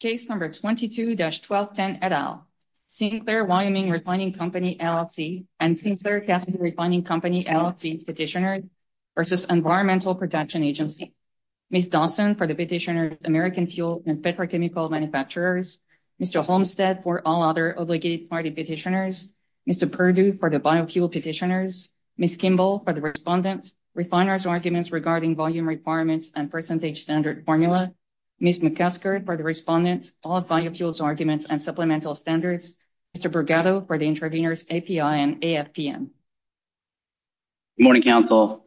Case number 22-1210 et al. Sinclair Wyoming Refining Company LLC and Sinclair Cassidy Refining Company LLC petitioners versus Environmental Protection Agency. Ms. Dawson for the petitioners American Fuel and Petrochemical Manufacturers. Mr. Holmstead for all other obligated party petitioners. Mr. Perdue for the biofuel petitioners. Ms. Kimball for the respondents. Refiner's arguments regarding volume requirements and percentage standard formula. Ms. McCusker for the respondents, all biofuels arguments and supplemental standards. Mr. Brigato for the interveners API and AFPM. Good morning, counsel.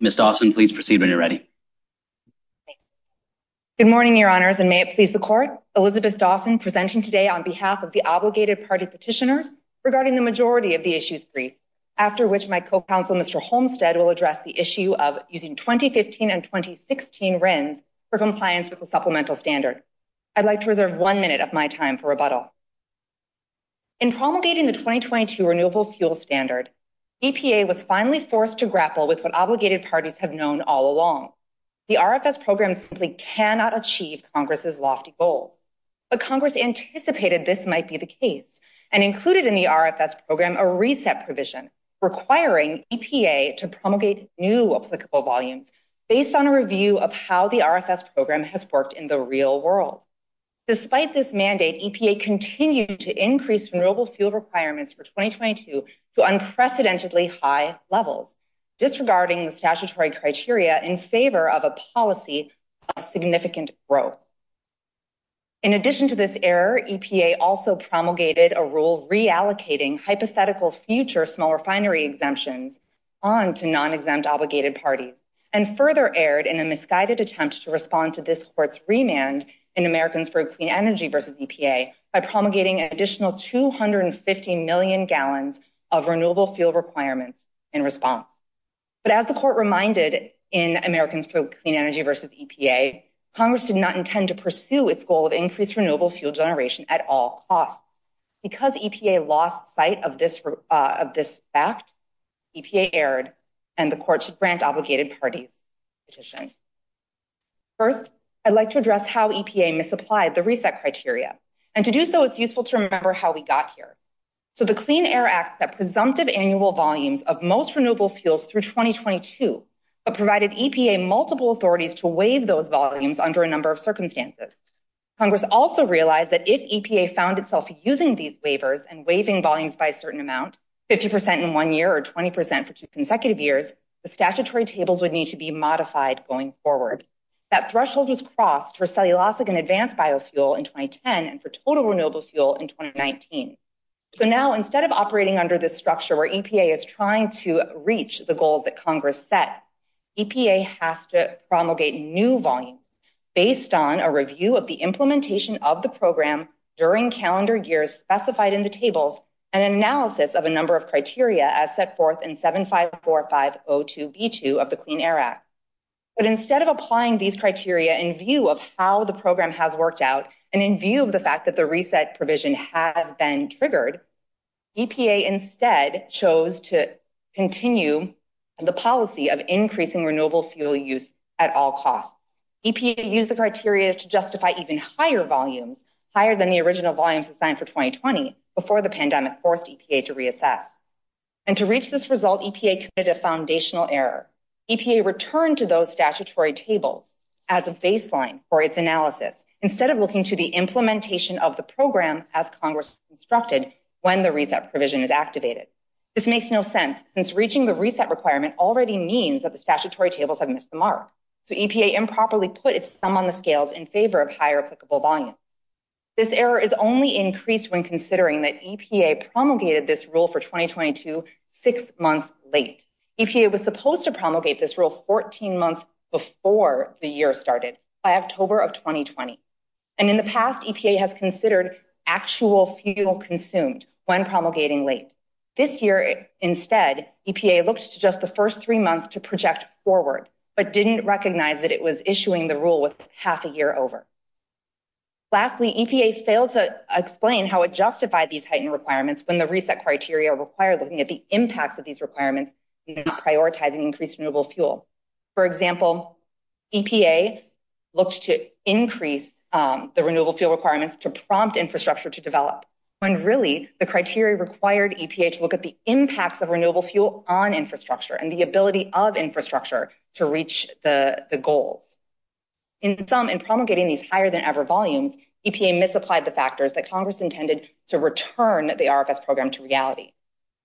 Ms. Dawson, please proceed when you're ready. Good morning, your honors, and may it please the court. Elizabeth Dawson presenting today on behalf of the obligated party petitioners regarding the majority of the issues briefed, after which my co-counsel Mr. Holmstead will address the issue of using 2015 and 2016 RINs for compliance with the supplemental standard. I'd like to reserve one minute of my time for rebuttal. In promulgating the 2022 Renewable Fuel Standard, EPA was finally forced to grapple with what obligated parties have known all along. The RFS program simply cannot achieve Congress's lofty goals, but Congress anticipated this might be the case and included in the RFS program a reset provision requiring EPA to promulgate new applicable volumes based on a review of how the RFS program has worked in the real world. Despite this mandate, EPA continued to increase renewable fuel requirements for 2022 to unprecedentedly high levels, disregarding the statutory criteria in favor of a policy of significant growth. In addition to this error, EPA also promulgated a rule reallocating hypothetical future small refinery exemptions on to non-exempt obligated parties and further erred in a misguided attempt to respond to this court's remand in Americans for Clean Energy versus EPA by promulgating an additional 250 million gallons of renewable fuel requirements in response. But as the court reminded in Americans for Clean Energy versus EPA, Congress did not intend to pursue its goal of increased renewable fuel generation at all costs. Because EPA lost sight of this fact, EPA erred and the court should grant obligated parties a petition. First, I'd like to address how EPA misapplied the reset criteria, and to do so it's useful to remember how we got here. So the Clean Air Act set presumptive annual volumes of most renewable fuels through 2022, but provided EPA multiple authorities to waive those circumstances. Congress also realized that if EPA found itself using these waivers and waiving volumes by a certain amount, 50% in one year or 20% for two consecutive years, the statutory tables would need to be modified going forward. That threshold was crossed for cellulosic and advanced biofuel in 2010 and for total renewable fuel in 2019. So now instead of operating under this structure where EPA is trying to reach the goals that Congress set, EPA has to promulgate new volumes based on a review of the implementation of the program during calendar years specified in the tables and analysis of a number of criteria as set forth in 754502B2 of the Clean Air Act. But instead of applying these criteria in view of how the program has worked out and in view of the fact that the reset provision has been triggered, EPA instead chose to continue the policy of EPA used the criteria to justify even higher volumes, higher than the original volumes assigned for 2020 before the pandemic forced EPA to reassess. And to reach this result, EPA committed a foundational error. EPA returned to those statutory tables as a baseline for its analysis instead of looking to the implementation of the program as Congress instructed when the reset provision is activated. This makes no sense since reaching the reset requirement already means that statutory tables have missed the mark. So EPA improperly put its sum on the scales in favor of higher applicable volumes. This error is only increased when considering that EPA promulgated this rule for 2022 six months late. EPA was supposed to promulgate this rule 14 months before the year started by October of 2020. And in the past, EPA has considered actual fuel consumed when promulgating late. This year, instead, EPA looks to just the first three months to project forward, but didn't recognize that it was issuing the rule with half a year over. Lastly, EPA failed to explain how it justified these heightened requirements when the reset criteria required looking at the impacts of these requirements, prioritizing increased renewable fuel. For example, EPA looked to increase the renewable fuel requirements to the criteria required EPA to look at the impacts of renewable fuel on infrastructure and the ability of infrastructure to reach the goals. In sum, in promulgating these higher than ever volumes, EPA misapplied the factors that Congress intended to return the RFS program to reality.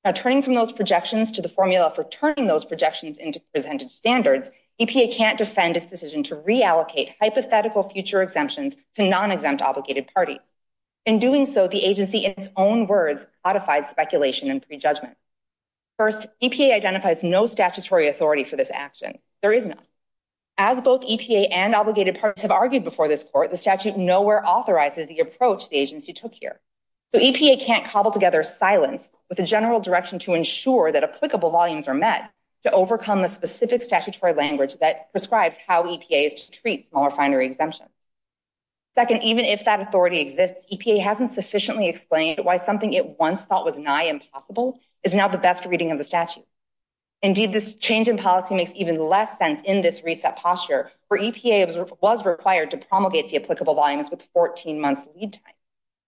Now, turning from those projections to the formula for turning those projections into presented standards, EPA can't defend its decision to reallocate hypothetical future exemptions to non-exempt obligated parties. In doing so, the agency, in its own words, codified speculation and prejudgment. First, EPA identifies no statutory authority for this action. There is none. As both EPA and obligated parties have argued before this court, the statute nowhere authorizes the approach the agency took here. So, EPA can't cobble together silence with a general direction to ensure that applicable volumes are met to overcome a specific statutory language that authority exists, EPA hasn't sufficiently explained why something it once thought was nigh impossible is now the best reading of the statute. Indeed, this change in policy makes even less sense in this reset posture, for EPA was required to promulgate the applicable volumes with 14 months lead time.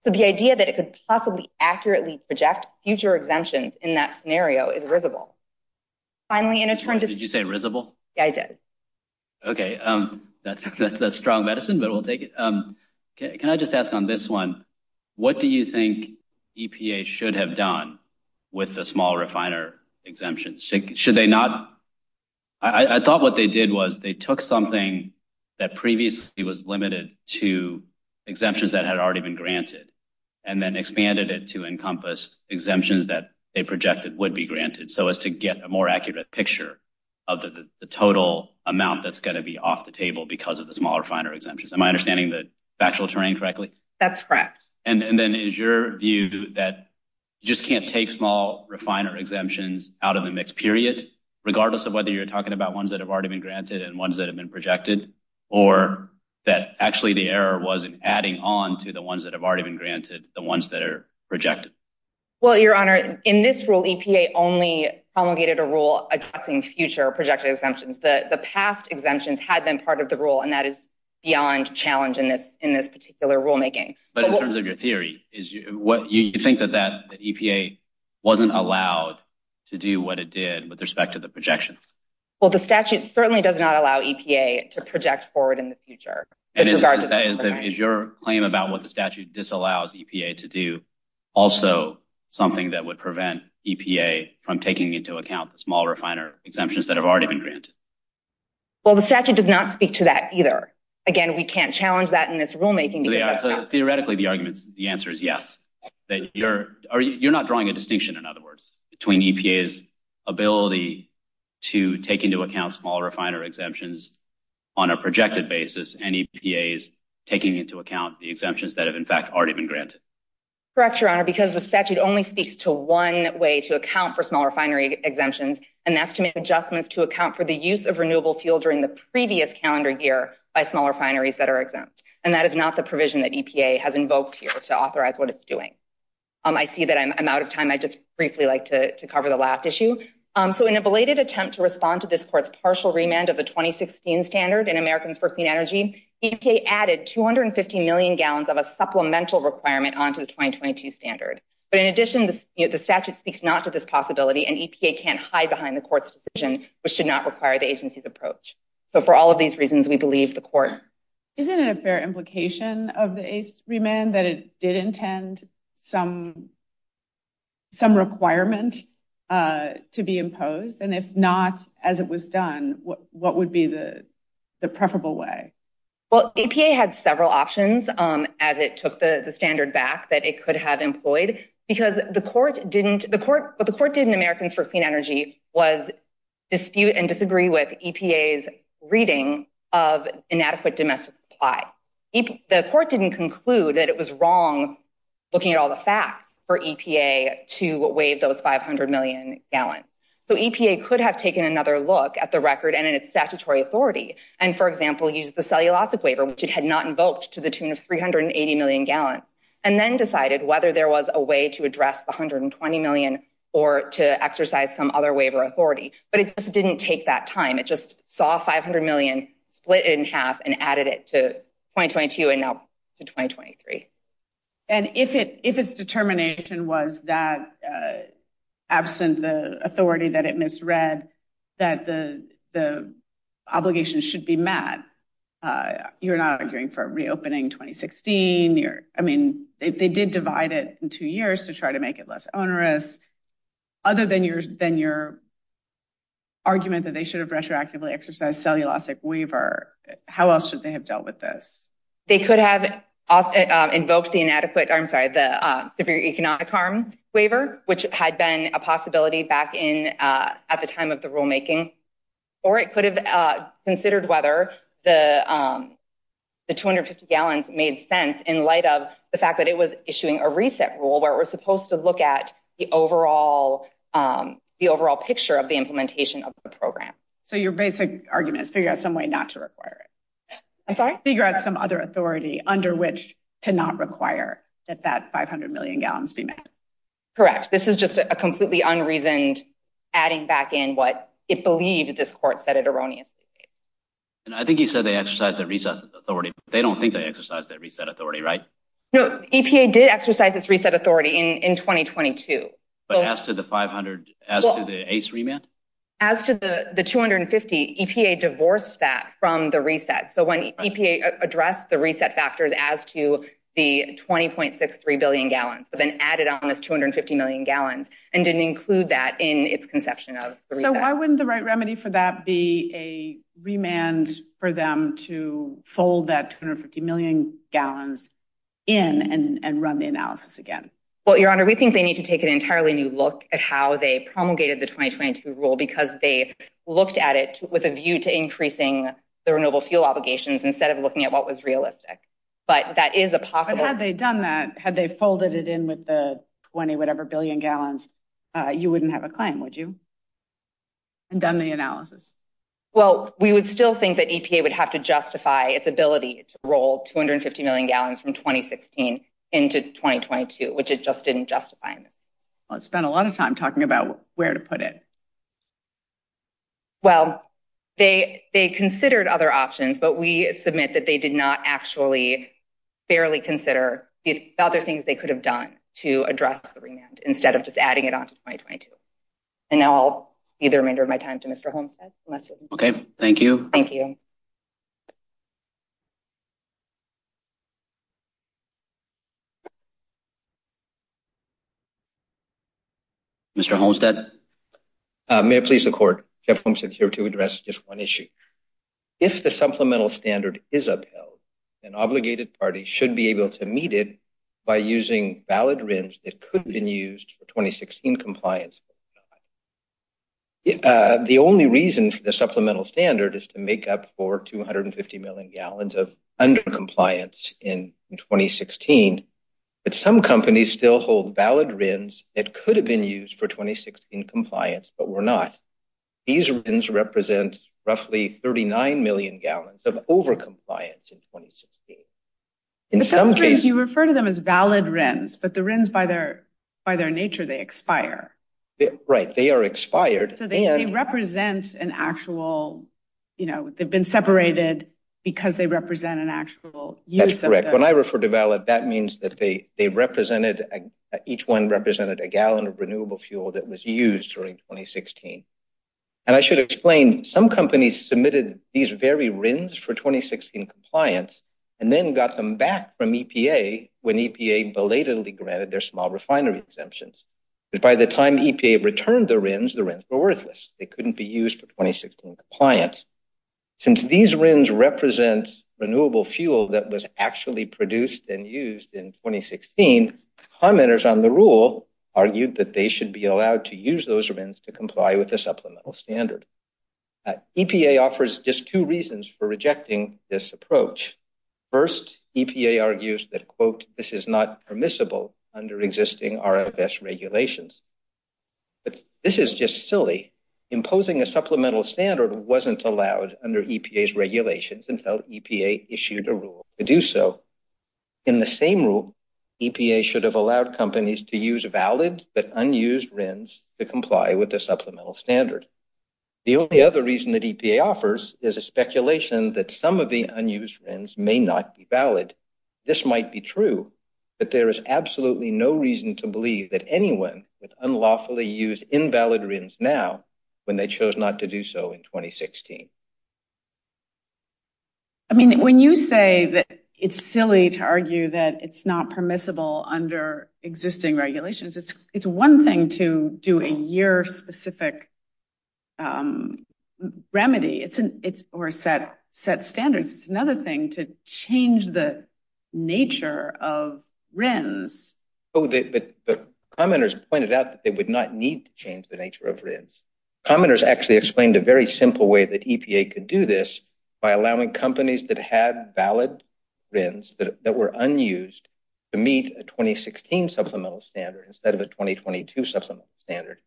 So, the idea that it could possibly accurately project future exemptions in that scenario is risible. Finally, in a turn to... Did you say risible? Yeah, I did. Okay, that's strong medicine, but we'll take it. Can I just ask on this one, what do you think EPA should have done with the small refiner exemptions? Should they not... I thought what they did was they took something that previously was limited to exemptions that had already been granted, and then expanded it to encompass exemptions that they projected would be amount that's going to be off the table because of the small refiner exemptions. Am I understanding the factual terrain correctly? That's correct. And then is your view that you just can't take small refiner exemptions out of the mix period, regardless of whether you're talking about ones that have already been granted and ones that have been projected, or that actually the error wasn't adding on to the ones that have already been granted, the ones that are projected? Well, your honor, in this rule, EPA only promulgated a rule addressing future projected exemptions. The past exemptions had been part of the rule, and that is beyond challenge in this particular rulemaking. But in terms of your theory, do you think that EPA wasn't allowed to do what it did with respect to the projections? Well, the statute certainly does not allow EPA to project forward in the future. Is your claim about what the statute disallows EPA to do also something that would prevent EPA from taking into account the small refiner exemptions that have already been granted? Well, the statute does not speak to that either. Again, we can't challenge that in this rulemaking. Theoretically, the argument, the answer is yes, that you're not drawing a distinction, in other words, between EPA's ability to take into account small refiner exemptions on a projected basis and EPA's taking into account the exemptions that have, in fact, already been granted. Correct, your honor, because the statute only speaks to one way to account for the use of renewable fuel during the previous calendar year by small refineries that are exempt. And that is not the provision that EPA has invoked here to authorize what it's doing. I see that I'm out of time. I'd just briefly like to cover the last issue. So in a belated attempt to respond to this court's partial remand of the 2016 standard in Americans for Clean Energy, EPA added 250 million gallons of a supplemental requirement onto the 2022 standard. But in addition, the statute speaks not to this possibility, and EPA can't hide behind the should not require the agency's approach. So for all of these reasons, we believe the court. Isn't it a fair implication of the ACE remand that it did intend some requirement to be imposed? And if not, as it was done, what would be the preferable way? Well, EPA had several options as it took the standard back that it could have employed, because what the court did in Americans for Clean Energy was dispute and disagree with EPA's reading of inadequate domestic supply. The court didn't conclude that it was wrong looking at all the facts for EPA to waive those 500 million gallons. So EPA could have taken another look at the record and in its statutory authority and, for example, use the cellulosic waiver, which it had not invoked to the tune of 380 million gallons, and then decided whether there was a way to address the 120 million or to exercise some other waiver authority. But it just didn't take that time. It just saw 500 million split in half and added it to 2022 and now to 2023. And if its determination was that absent the authority that it misread, that the obligation should be met, you're not arguing for in two years to try to make it less onerous. Other than your argument that they should have retroactively exercised cellulosic waiver, how else should they have dealt with this? They could have invoked the severe economic harm waiver, which had been a possibility back in at the time of the rulemaking. Or it could have considered whether the 250 gallons made sense in light of the fact that it was issuing a reset rule where it was supposed to look at the overall picture of the implementation of the program. So your basic argument is figure out some way not to require it. I'm sorry? Figure out some other authority under which to not require that that 500 million gallons be made. Correct. This is just a completely unreasoned adding back in what it believed this court said it erroneously. And I think you said they exercised authority, but they don't think they exercised that reset authority, right? No, EPA did exercise this reset authority in 2022. But as to the 500, as to the ACE remand? As to the 250, EPA divorced that from the reset. So when EPA addressed the reset factors as to the 20.63 billion gallons, but then added on this 250 million gallons and didn't include that in its conception of the reset. So why wouldn't the right remedy for that be a remand for them to fold that 250 million gallons in and run the analysis again? Well, Your Honor, we think they need to take an entirely new look at how they promulgated the 2022 rule because they looked at it with a view to increasing the renewable fuel obligations instead of looking at what was realistic. But that is a possible- But had they done that, had they folded it in with the 20 whatever billion gallons, you wouldn't have a claim, would you? And done the analysis. We would still think that EPA would have to justify its ability to roll 250 million gallons from 2016 into 2022, which it just didn't justify in this case. Well, it spent a lot of time talking about where to put it. Well, they considered other options, but we submit that they did not actually fairly consider the other things they could have done to address the remand instead of just adding it onto 2022. And now I'll leave the remainder of my time to Mr. Holmstead. Okay, thank you. Thank you. Mr. Holmstead? May it please the Court, Jeff Holmstead here to address just one issue. If the supplemental standard is upheld, an obligated party should be able to meet it by using valid RIMs that could have been used for 2016 compliance. The only reason for the supplemental standard is to make up for 250 million gallons of under-compliance in 2016. But some companies still hold valid RIMs that could have been used for 2016 compliance, but were not. These RIMs represent roughly 39 million gallons of over-compliance in 2016. In some cases... You refer to them as valid RIMs, but the RIMs by their nature, they expire. Right, they are expired. So they represent an actual, you know, they've been separated because they represent an actual use of the... That's correct. When I refer to valid, that means that they represented, each one represented a gallon of renewable fuel that was used during 2016. And I should explain, some companies submitted these very RIMs for 2016 compliance, and then got them back from EPA when EPA belatedly granted their small refinery exemptions. But by the time EPA returned the RIMs, the RIMs were worthless. They couldn't be used for 2016 compliance. Since these RIMs represent renewable fuel that was actually produced and used in 2016, commenters on the rule argued that they should be allowed to use those RIMs to comply with the supplemental standard. EPA offers just two reasons for rejecting this approach. First, EPA argues that, quote, this is not permissible under existing RFS regulations. But this is just silly. Imposing a supplemental standard wasn't allowed under EPA's regulations until EPA issued a rule to do so. In the same rule, EPA should have allowed companies to use valid but unused RIMs to comply with the supplemental standard. The only other reason that EPA offers is a speculation that some of the unused RIMs may not be valid. This might be true, but there is absolutely no reason to believe that anyone would unlawfully use invalid RIMs now when they chose not to do so in 2016. I mean, when you say that it's silly to argue that it's not permissible under existing regulations, it's one thing to do a year-specific remedy or set standards. It's another thing to change the nature of RIMs. But commenters pointed out that they would not need to change the nature of RIMs. Commenters actually explained a very simple way that EPA could do this by allowing companies that had valid RIMs that were unused to meet a 2016 supplemental standard instead of a 2022 supplemental standard.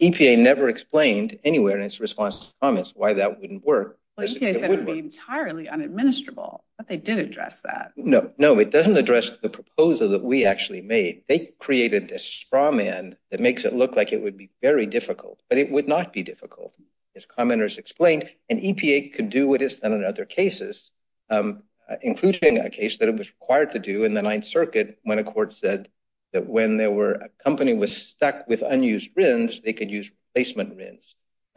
EPA never explained anywhere in its response to comments why that wouldn't work. EPA said it would be entirely unadministrable, but they did address that. No, it doesn't address the proposal that we actually made. They created a strawman that makes it look like it would be very difficult, but it would not be difficult, as commenters explained. And EPA could do what it's done in other cases, including a case that it was required to do in the Ninth Circuit when a court said that when a company was stuck with unused RIMs, they could use replacement RIMs,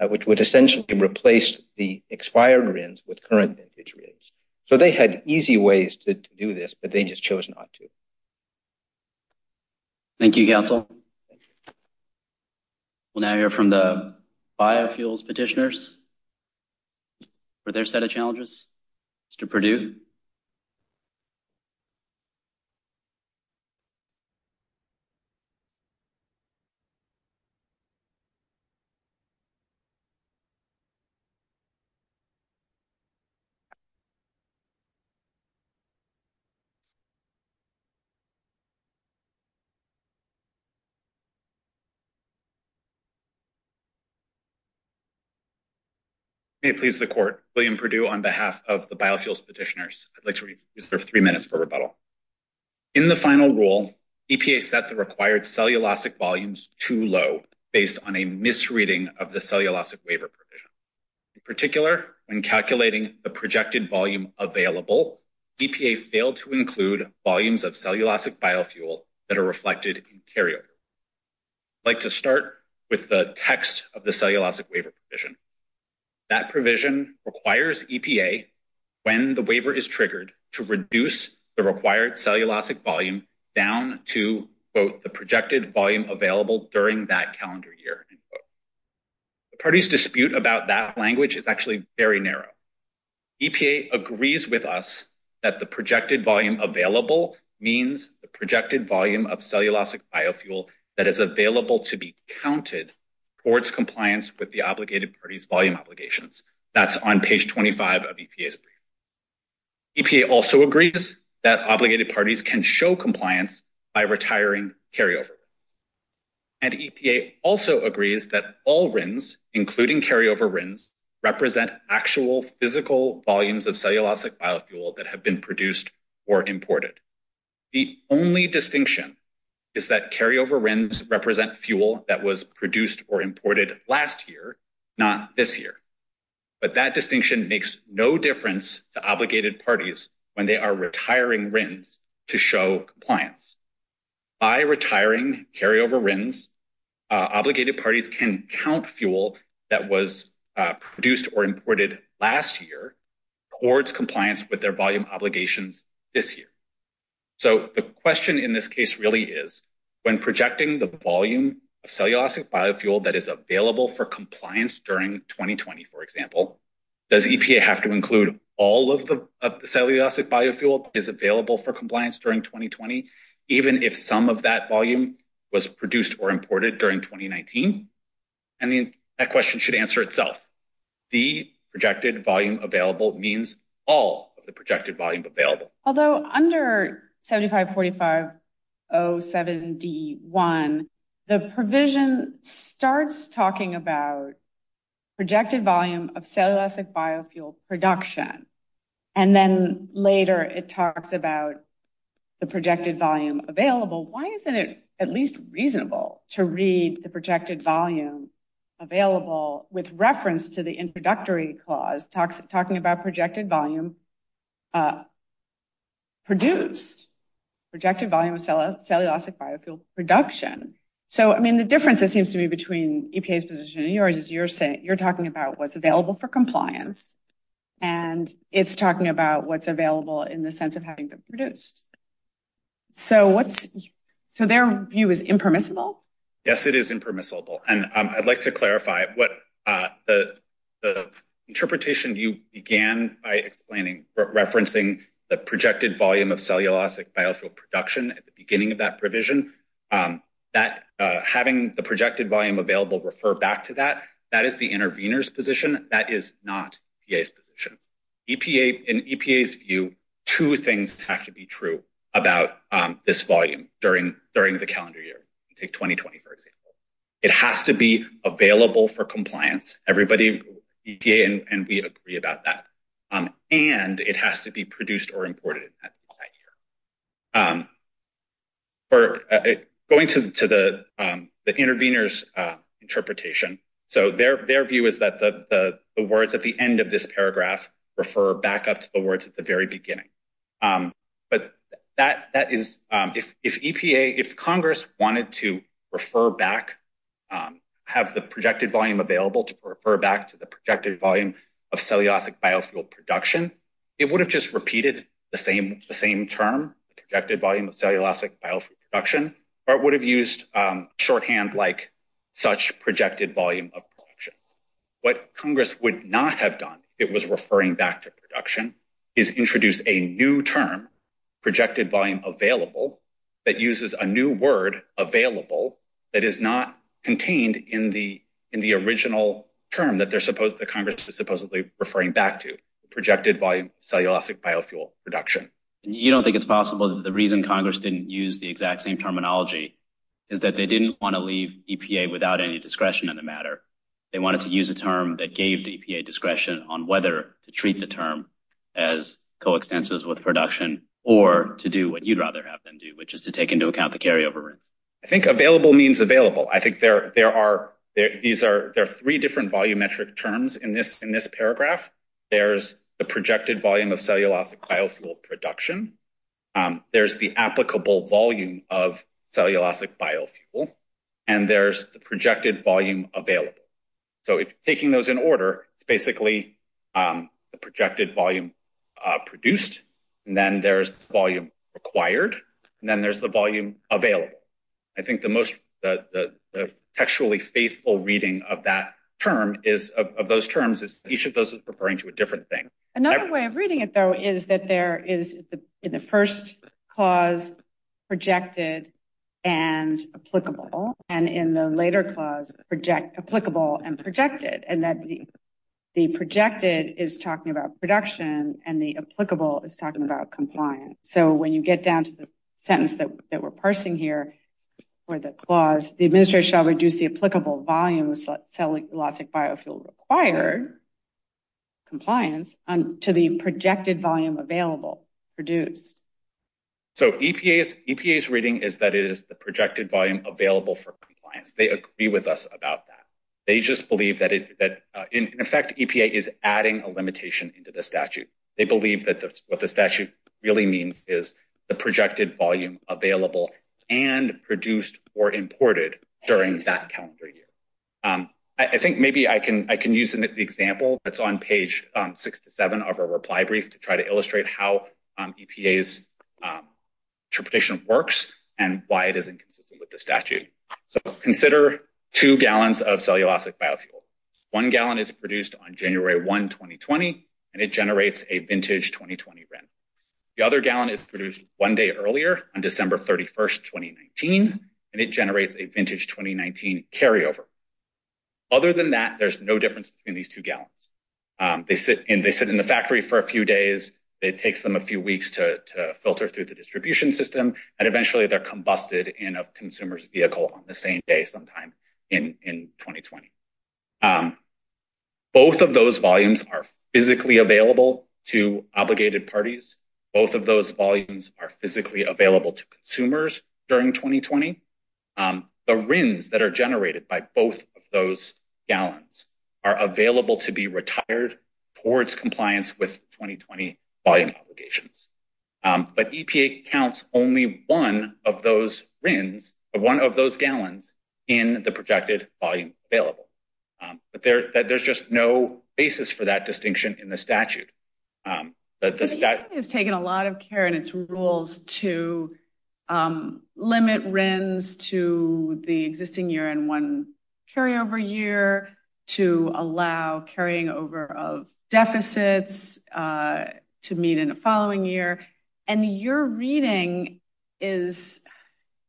which would essentially replace the expired RIMs with current vintage RIMs. So they had easy ways to do this, but they just chose not to. Thank you, counsel. We'll now hear from the biofuels petitioners. For their set of challenges, Mr. Perdue. May it please the court, William Perdue on behalf of the biofuels petitioner. I'd like to reserve three minutes for rebuttal. In the final rule, EPA set the required cellulosic volumes too low based on a misreading of the cellulosic waiver provision. In particular, when calculating the projected volume available, EPA failed to include volumes of cellulosic biofuel that are reflected in carryover. I'd like to start with the text of the cellulosic waiver provision. That provision requires EPA, when the waiver is triggered, to reduce the required cellulosic volume down to the projected volume available during that calendar year. The party's dispute about that language is actually very narrow. EPA agrees with us that the projected volume available means the projected volume of cellulosic obligations. That's on page 25 of EPA's brief. EPA also agrees that obligated parties can show compliance by retiring carryover. And EPA also agrees that all RINs, including carryover RINs, represent actual physical volumes of cellulosic biofuel that have been produced or imported. The only distinction is that carryover RINs represent fuel that was produced or imported last year, not this year. But that distinction makes no difference to obligated parties when they are retiring RINs to show compliance. By retiring carryover RINs, obligated parties can count fuel that was produced or imported last year towards compliance with their volume obligations this year. So, the question in this case really is, when projecting the volume of cellulosic biofuel that is available for compliance during 2020, for example, does EPA have to include all of the cellulosic biofuel that is available for compliance during 2020, even if some of that volume was produced or imported during 2019? And that question should answer itself. The projected volume available means all of the projected volume available. Although under 7545.07d.1, the provision starts talking about projected volume of cellulosic biofuel production. And then later it talks about the projected volume available. Why isn't it at least reasonable to read the projected volume available with reference to the introductory clause talking about projected volume produced, projected volume of cellulosic biofuel production? So, I mean, the difference that seems to be between EPA's position and yours is you're talking about what's available for compliance, and it's talking about what's available in the sense of having been produced. So, their view is impermissible? Yes, it is impermissible. And I'd like to clarify what the interpretation you began by explaining, referencing the projected volume of cellulosic biofuel production at the beginning of that provision, that having the projected volume available refer back to that. That is the intervener's position. That is not EPA's position. In EPA's view, two things have to be true about this volume during the calendar year. Take 2020, for example. It has to be available for compliance. Everybody, EPA and we agree about that. And it has to be produced or imported in that year. Going to the intervener's interpretation, so their view is that the words at the end of this paragraph refer back up to the words at the very beginning. But that is, if EPA, if Congress wanted to refer back, have the projected volume available to refer back to the projected volume of cellulosic biofuel production, it would have just repeated the same term, projected volume of cellulosic biofuel production, or it would have used shorthand like such projected volume of production. What Congress would not have done if it was referring back to production is introduce a new term, projected volume available, that uses a new word, available, that is not contained in the original term that Congress is supposedly referring back to, projected volume of cellulosic biofuel production. You don't think it's possible that the reason Congress didn't use the exact same terminology is that they didn't want to leave EPA without any discretion in the matter. They wanted to use a term that gave the EPA discretion on whether to treat the term as coextensive with production or to do what you'd rather have them do, which is to take into account the carryover risk. I think available means available. I think there are three different volumetric terms in this paragraph. There's the projected volume of cellulosic biofuel production. There's the applicable volume of cellulosic biofuel. And there's the projected volume available. So if taking those in order, it's basically the projected volume produced. And then there's volume required. And then there's the volume available. I think the most textually faithful reading of that term is of those terms is each of those is referring to a different thing. Another way of reading it, though, is that there is in the first clause, projected and applicable, and in the later clause, applicable and projected, and that the projected is talking about production and the applicable is talking about compliance. So when you get down to the sentence that we're parsing here for the clause, the administrator shall reduce the applicable volume of cellulosic biofuel required compliance to the projected volume available produced. So EPA's reading is that it is the projected volume available for compliance. They agree with us about that. They just believe that in effect, EPA is adding a limitation into the statute. They believe that what the statute really means is the projected volume available and produced or imported during that calendar year. I think maybe I can use the example that's on page six to seven of our reply brief to illustrate how EPA's interpretation works and why it is inconsistent with the statute. So consider two gallons of cellulosic biofuel. One gallon is produced on January 1, 2020, and it generates a vintage 2020 RIN. The other gallon is produced one day earlier on December 31, 2019, and it generates a vintage 2019 carryover. Other than that, there's no difference between these two gallons. They sit in the factory for a few days. It takes them a few weeks to filter through the distribution system, and eventually they're combusted in a consumer's vehicle on the same day sometime in 2020. Both of those volumes are physically available to obligated parties. Both of those volumes are physically available to consumers during 2020. The RINs that are generated by both of those gallons are available to be retired towards compliance with 2020 volume obligations. But EPA counts only one of those gallons in the projected volume available. There's just no basis for that distinction in the statute. But the statute has taken a lot of care in its rules to limit RINs to the existing year and one carryover year, to allow carrying over of deficits to meet in the following year. And your reading is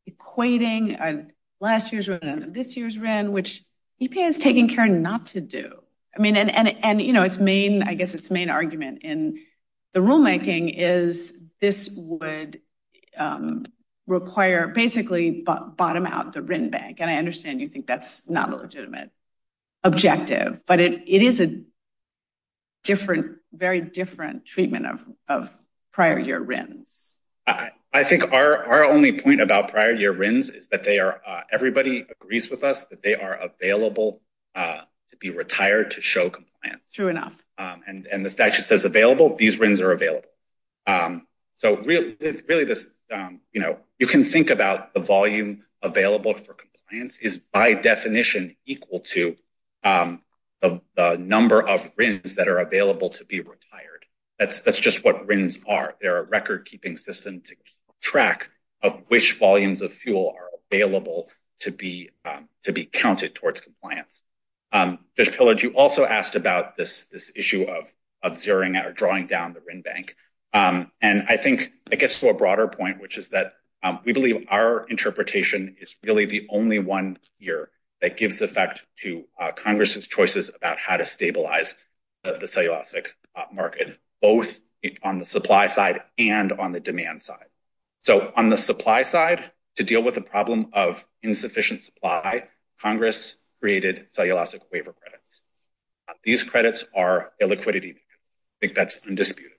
equating last year's RIN with this year's RIN, which EPA is taking care not to do. I mean, and, you know, its main, I guess its main argument in the rulemaking is this would require basically bottom out the RIN bank. And I understand you think that's not a legitimate objective, but it is a different, very different treatment of prior year RINs. I think our only point about prior year RINs is that they are, everybody agrees with us that they are available to be retired to show compliance. True enough. And the statute says available. These RINs are available. So really this, you know, you can think about the volume available for compliance is by definition equal to the number of RINs that are available to be retired. That's just what RINs are. They're a record keeping system to track of which volumes of fuel are available to be counted towards compliance. Judge Pillard, you also asked about this issue of zeroing out or drawing down the RIN bank. And I think it gets to a broader point, which is that we believe our interpretation is really the only one here that gives effect to Congress's choices about how to stabilize the cellulosic market, both on the supply side and on the demand side. So on the supply side, to deal with the problem of insufficient supply, Congress created cellulosic waiver credits. These credits are illiquidity. I think that's undisputed.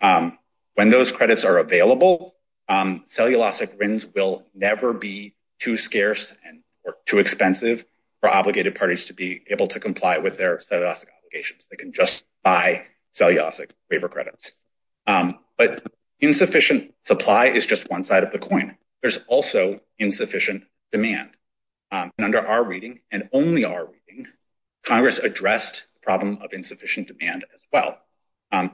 When those credits are available, cellulosic RINs will never be too scarce or too expensive for obligated parties to be able to comply with their cellulosic obligations. They can just buy cellulosic waiver credits. But insufficient supply is just one side of the coin. There's also insufficient demand. And under our reading, and only our reading, Congress addressed the problem of insufficient demand as well.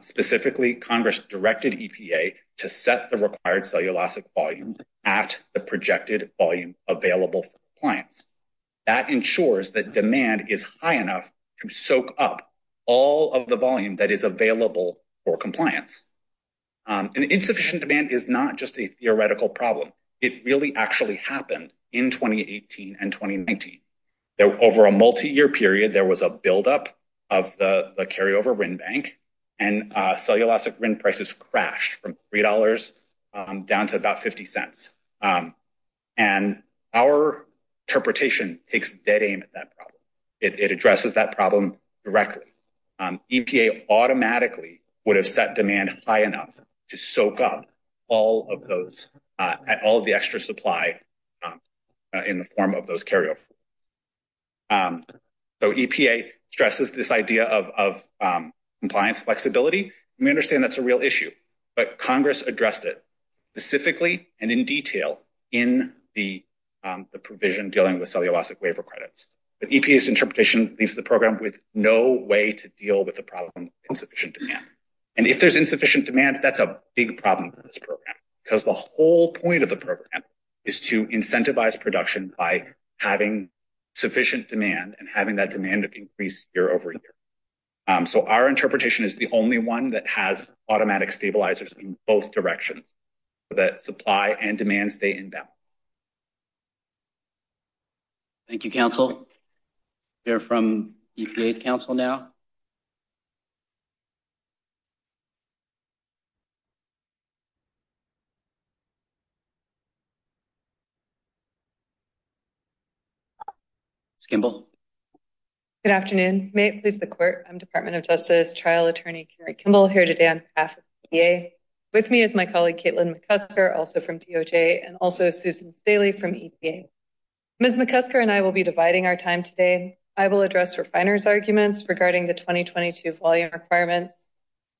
Specifically, Congress directed EPA to set the required cellulosic volume at the projected volume available for compliance. That ensures that demand is high enough to soak up all of the volume that is available for compliance. And insufficient demand is not just a theoretical problem. It really actually happened in 2018 and 2019. Over a multi-year period, there was a buildup of the carryover RIN bank, and cellulosic RIN prices crashed from $3 down to about 50 cents. And our interpretation takes dead aim at that problem. It addresses that problem directly. EPA automatically would have set demand high enough to soak up all of the extra supply in the form of those carryover RINs. So EPA stresses this idea of compliance flexibility. We understand that's a real issue. But Congress addressed it specifically and in detail in the provision dealing with cellulosic waiver credits. But EPA's interpretation leaves the program with no way to deal with the problem of insufficient demand. And if there's insufficient demand, that's a big problem for this program, because the whole point of the program is to incentivize production by having sufficient demand and having that demand increase year over year. So our interpretation is the only one that has automatic stabilizers in both directions so that supply and demand stay in balance. Thank you, Council. We'll hear from EPA's Council now. Skimble. Good afternoon. I'm Department of Justice Trial Attorney Karen Kimball here today on behalf of EPA. With me is my colleague Caitlin McCusker, also from DOJ, and also Susan Staley from EPA. Ms. McCusker and I will be dividing our time today. I will address refiners' arguments regarding the 2022 volume requirements.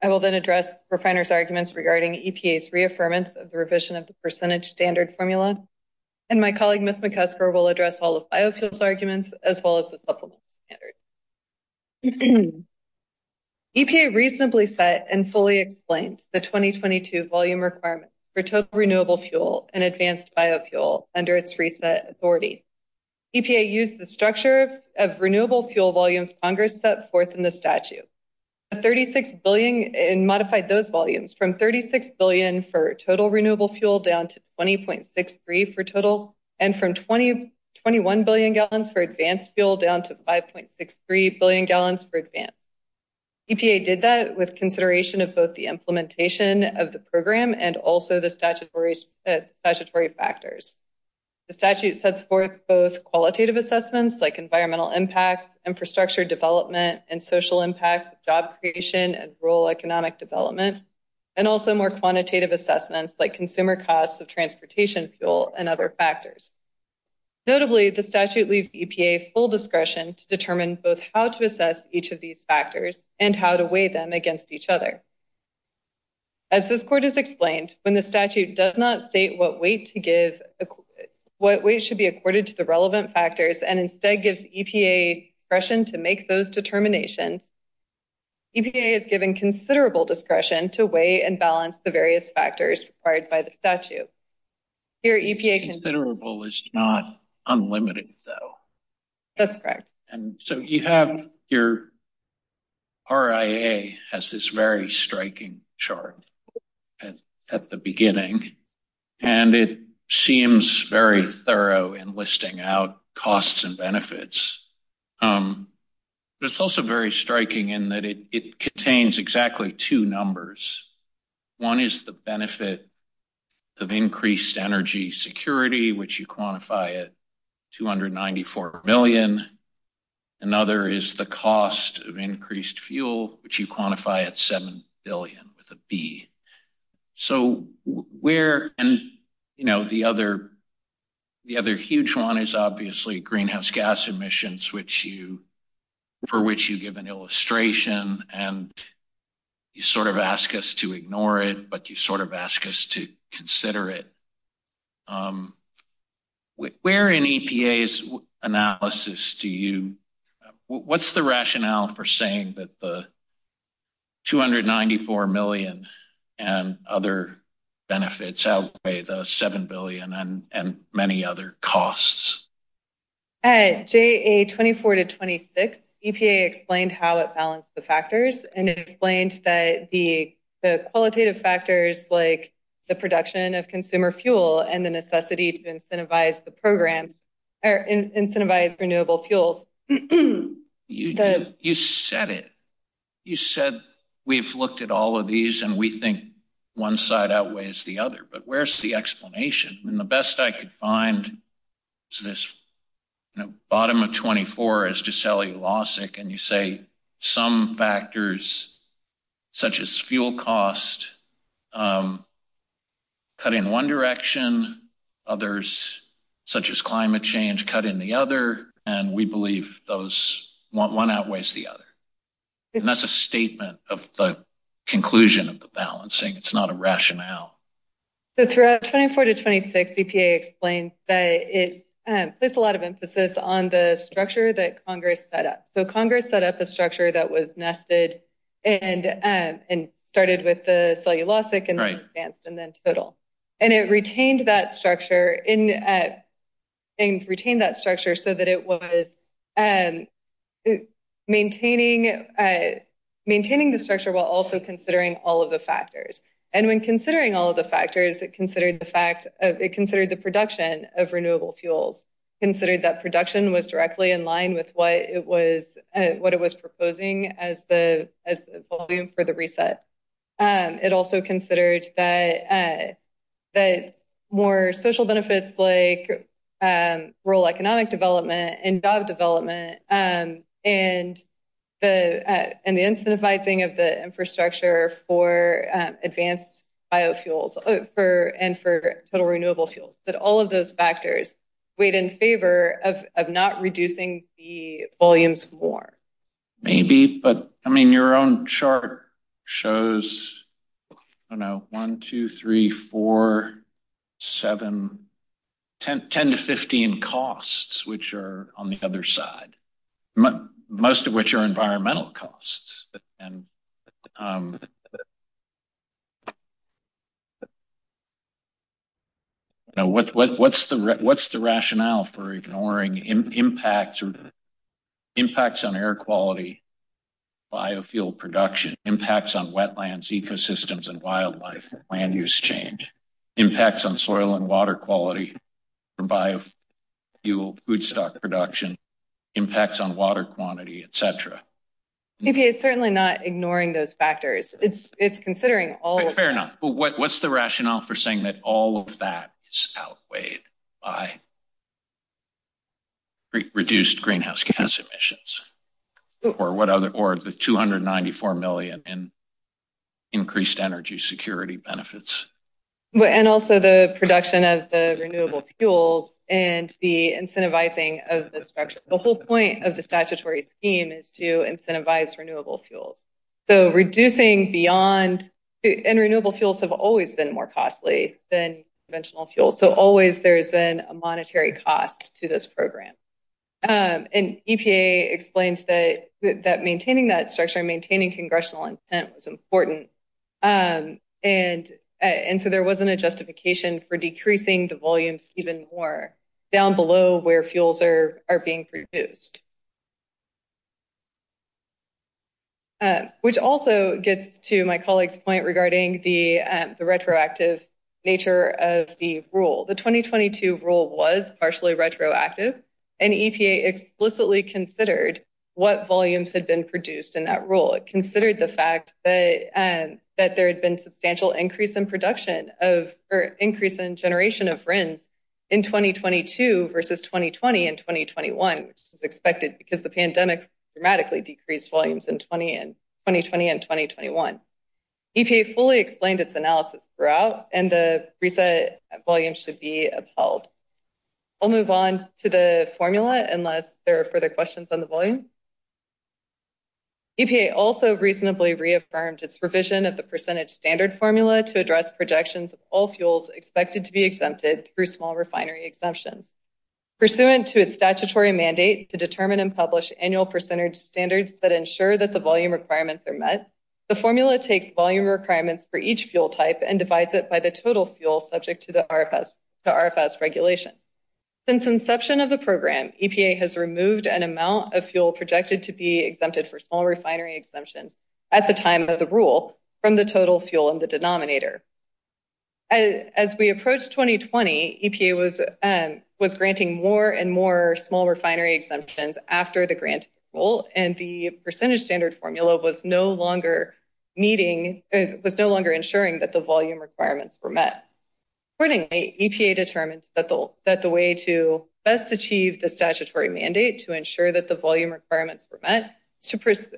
I will then address refiners' arguments regarding EPA's reaffirmance of the revision of the percentage standard formula. And my colleague, Ms. McCusker, will address all of biofuels' arguments as well as the supplement standards. EPA reasonably set and fully explained the 2022 volume requirements for total renewable fuel and advanced biofuel under its reset authority. EPA used the structure of renewable fuel volumes Congress set forth in the statute. Thirty-six billion and modified those volumes from $36 billion for total renewable fuel down to $20.63 billion for total and from $21 billion gallons for advanced fuel down to $5.63 billion gallons for advanced. EPA did that with consideration of both the implementation of the program and also the statutory factors. The statute sets forth both qualitative assessments like environmental impacts, infrastructure development, and social impacts of job creation and rural economic development, and also more quantitative assessments like consumer costs of transportation fuel and other factors. Notably, the statute leaves EPA full discretion to determine both how to assess each of these factors and how to weigh them against each other. As this court has explained, when the statute does not state what weight should be accorded to the relevant factors and instead gives EPA discretion to make those determinations, EPA is given considerable discretion to weigh and balance the various factors required by the statute. Your EPA considerable is not unlimited though. That's correct. And so you have your RIA has this very striking chart at the beginning and it seems very thorough in listing out costs and benefits. But it's also very striking in that it contains exactly two numbers. One is the benefit of increased energy security, which you quantify at $294 million. Another is the cost of increased fuel, which you quantify at $7 billion with a B. So where and, you know, the other huge one is obviously greenhouse gas emissions for which you give an illustration and you sort of ask us to ignore it, but you sort of ask us to consider it. Where in EPA's analysis do you, what's the rationale for saying that the $294 million and other benefits outweigh the $7 billion and many other costs? At JA 24 to 26, EPA explained how it balanced the factors and it explained that the qualitative factors like the production of consumer fuel and the necessity to incentivize the program or incentivize renewable fuels. You said it, you said we've looked at all of these and we think one side outweighs the other, but where's the explanation? And the best I could find is this, you know, bottom of 24 is to sell you LASIC and you say some factors such as fuel cost cut in one direction, others such as climate change cut in the other, and we believe those, one outweighs the other. And that's a statement of the conclusion of the balancing. It's not a rationale. So throughout 24 to 26, EPA explained that it placed a lot of emphasis on the structure that Congress set up. So Congress set up a structure that was nested and started with the cellulosic and then total. And it retained that structure so that it was maintaining the structure while also considering all of the factors. And when considering all of the factors, it considered the fact of, it considered the production of renewable fuels, considered that production was directly in line with what it was, what it was proposing as the volume for the reset. It also considered that more social benefits like rural economic development and job development and the incentivizing of the infrastructure for advanced biofuels and for total renewable fuels, that all of those factors weighed in favor of not reducing the volumes more. Maybe, but I mean, your own chart shows, I don't know, one, two, three, four, seven, 10 to 15 costs, which are on the other side, most of which are environmental costs. And what's the rationale for ignoring impacts on air quality, biofuel production, impacts on wetlands, ecosystems, and wildlife, land use change, impacts on soil and water quality from biofuel, foodstock production, impacts on water quantity, et cetera? Maybe it's certainly not ignoring those factors. It's considering all of that. Fair enough. But what's the rationale for saying that all of that is outweighed by reduced greenhouse gas emissions or the 294 million in increased energy security benefits? And also the production of the renewable fuels and the incentivizing of the structure. The whole point of the statutory scheme is to incentivize renewable fuels. So reducing beyond, and renewable fuels have always been more costly than conventional fuels. So always there has been a monetary cost to this program. And EPA explains that maintaining that structure and maintaining congressional intent was important. And so there wasn't a justification for decreasing the volumes even more down below where fuels are being produced. And which also gets to my colleague's point regarding the retroactive nature of the rule. The 2022 rule was partially retroactive and EPA explicitly considered what volumes had been produced in that rule. It considered the fact that there had been substantial increase in production of, or the pandemic dramatically decreased volumes in 2020 and 2021. EPA fully explained its analysis throughout and the volume should be upheld. I'll move on to the formula unless there are further questions on the volume. EPA also reasonably reaffirmed its provision of the percentage standard formula to address projections of all fuels expected to be exempted through small refinery exemptions. Pursuant to its statutory mandate to determine and publish annual percentage standards that ensure that the volume requirements are met, the formula takes volume requirements for each fuel type and divides it by the total fuel subject to the RFS regulation. Since inception of the program, EPA has removed an amount of fuel projected to be exempted for small refinery exemptions at the time of the rule from the total fuel in the denominator. As we approached 2020, EPA was granting more and more small refinery exemptions after the grant rule and the percentage standard formula was no longer ensuring that the volume requirements were met. Accordingly, EPA determined that the way to best achieve the statutory mandate to ensure that the volume requirements were met was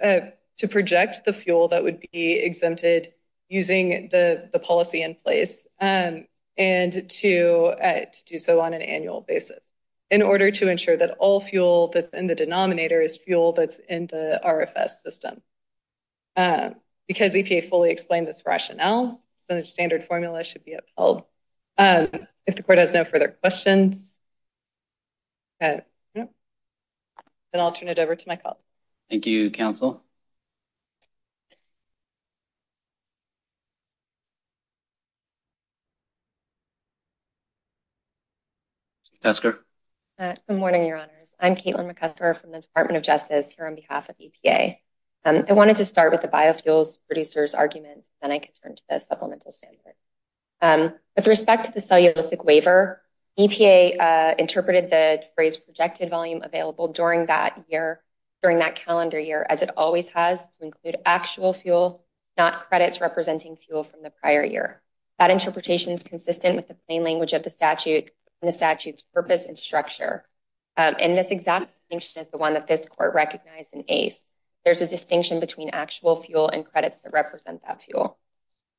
to project the fuel that would be exempted using the policy in place and to do so on an annual basis in order to ensure that all fuel that's in the denominator is fuel that's in the RFS system. Because EPA fully explained this rationale, the standard formula should be upheld. If the court has no further questions, then I'll turn it over to my colleague. Thank you, counsel. Good morning, Your Honors. I'm Caitlin McCusker from the Department of Justice here on behalf of EPA. I wanted to start with the biofuels producer's argument and then I could turn to the supplemental standard. With respect to the cellulosic waiver, EPA interpreted the phrase projected volume available during that year, during that calendar year, as it always has to include actual fuel, not credits representing fuel from the prior year. That interpretation is consistent with the plain language of the statute and the statute's purpose and structure. And this exact distinction is the one that this court recognized in ACE. There's a distinction between actual fuel and credits that represent that fuel.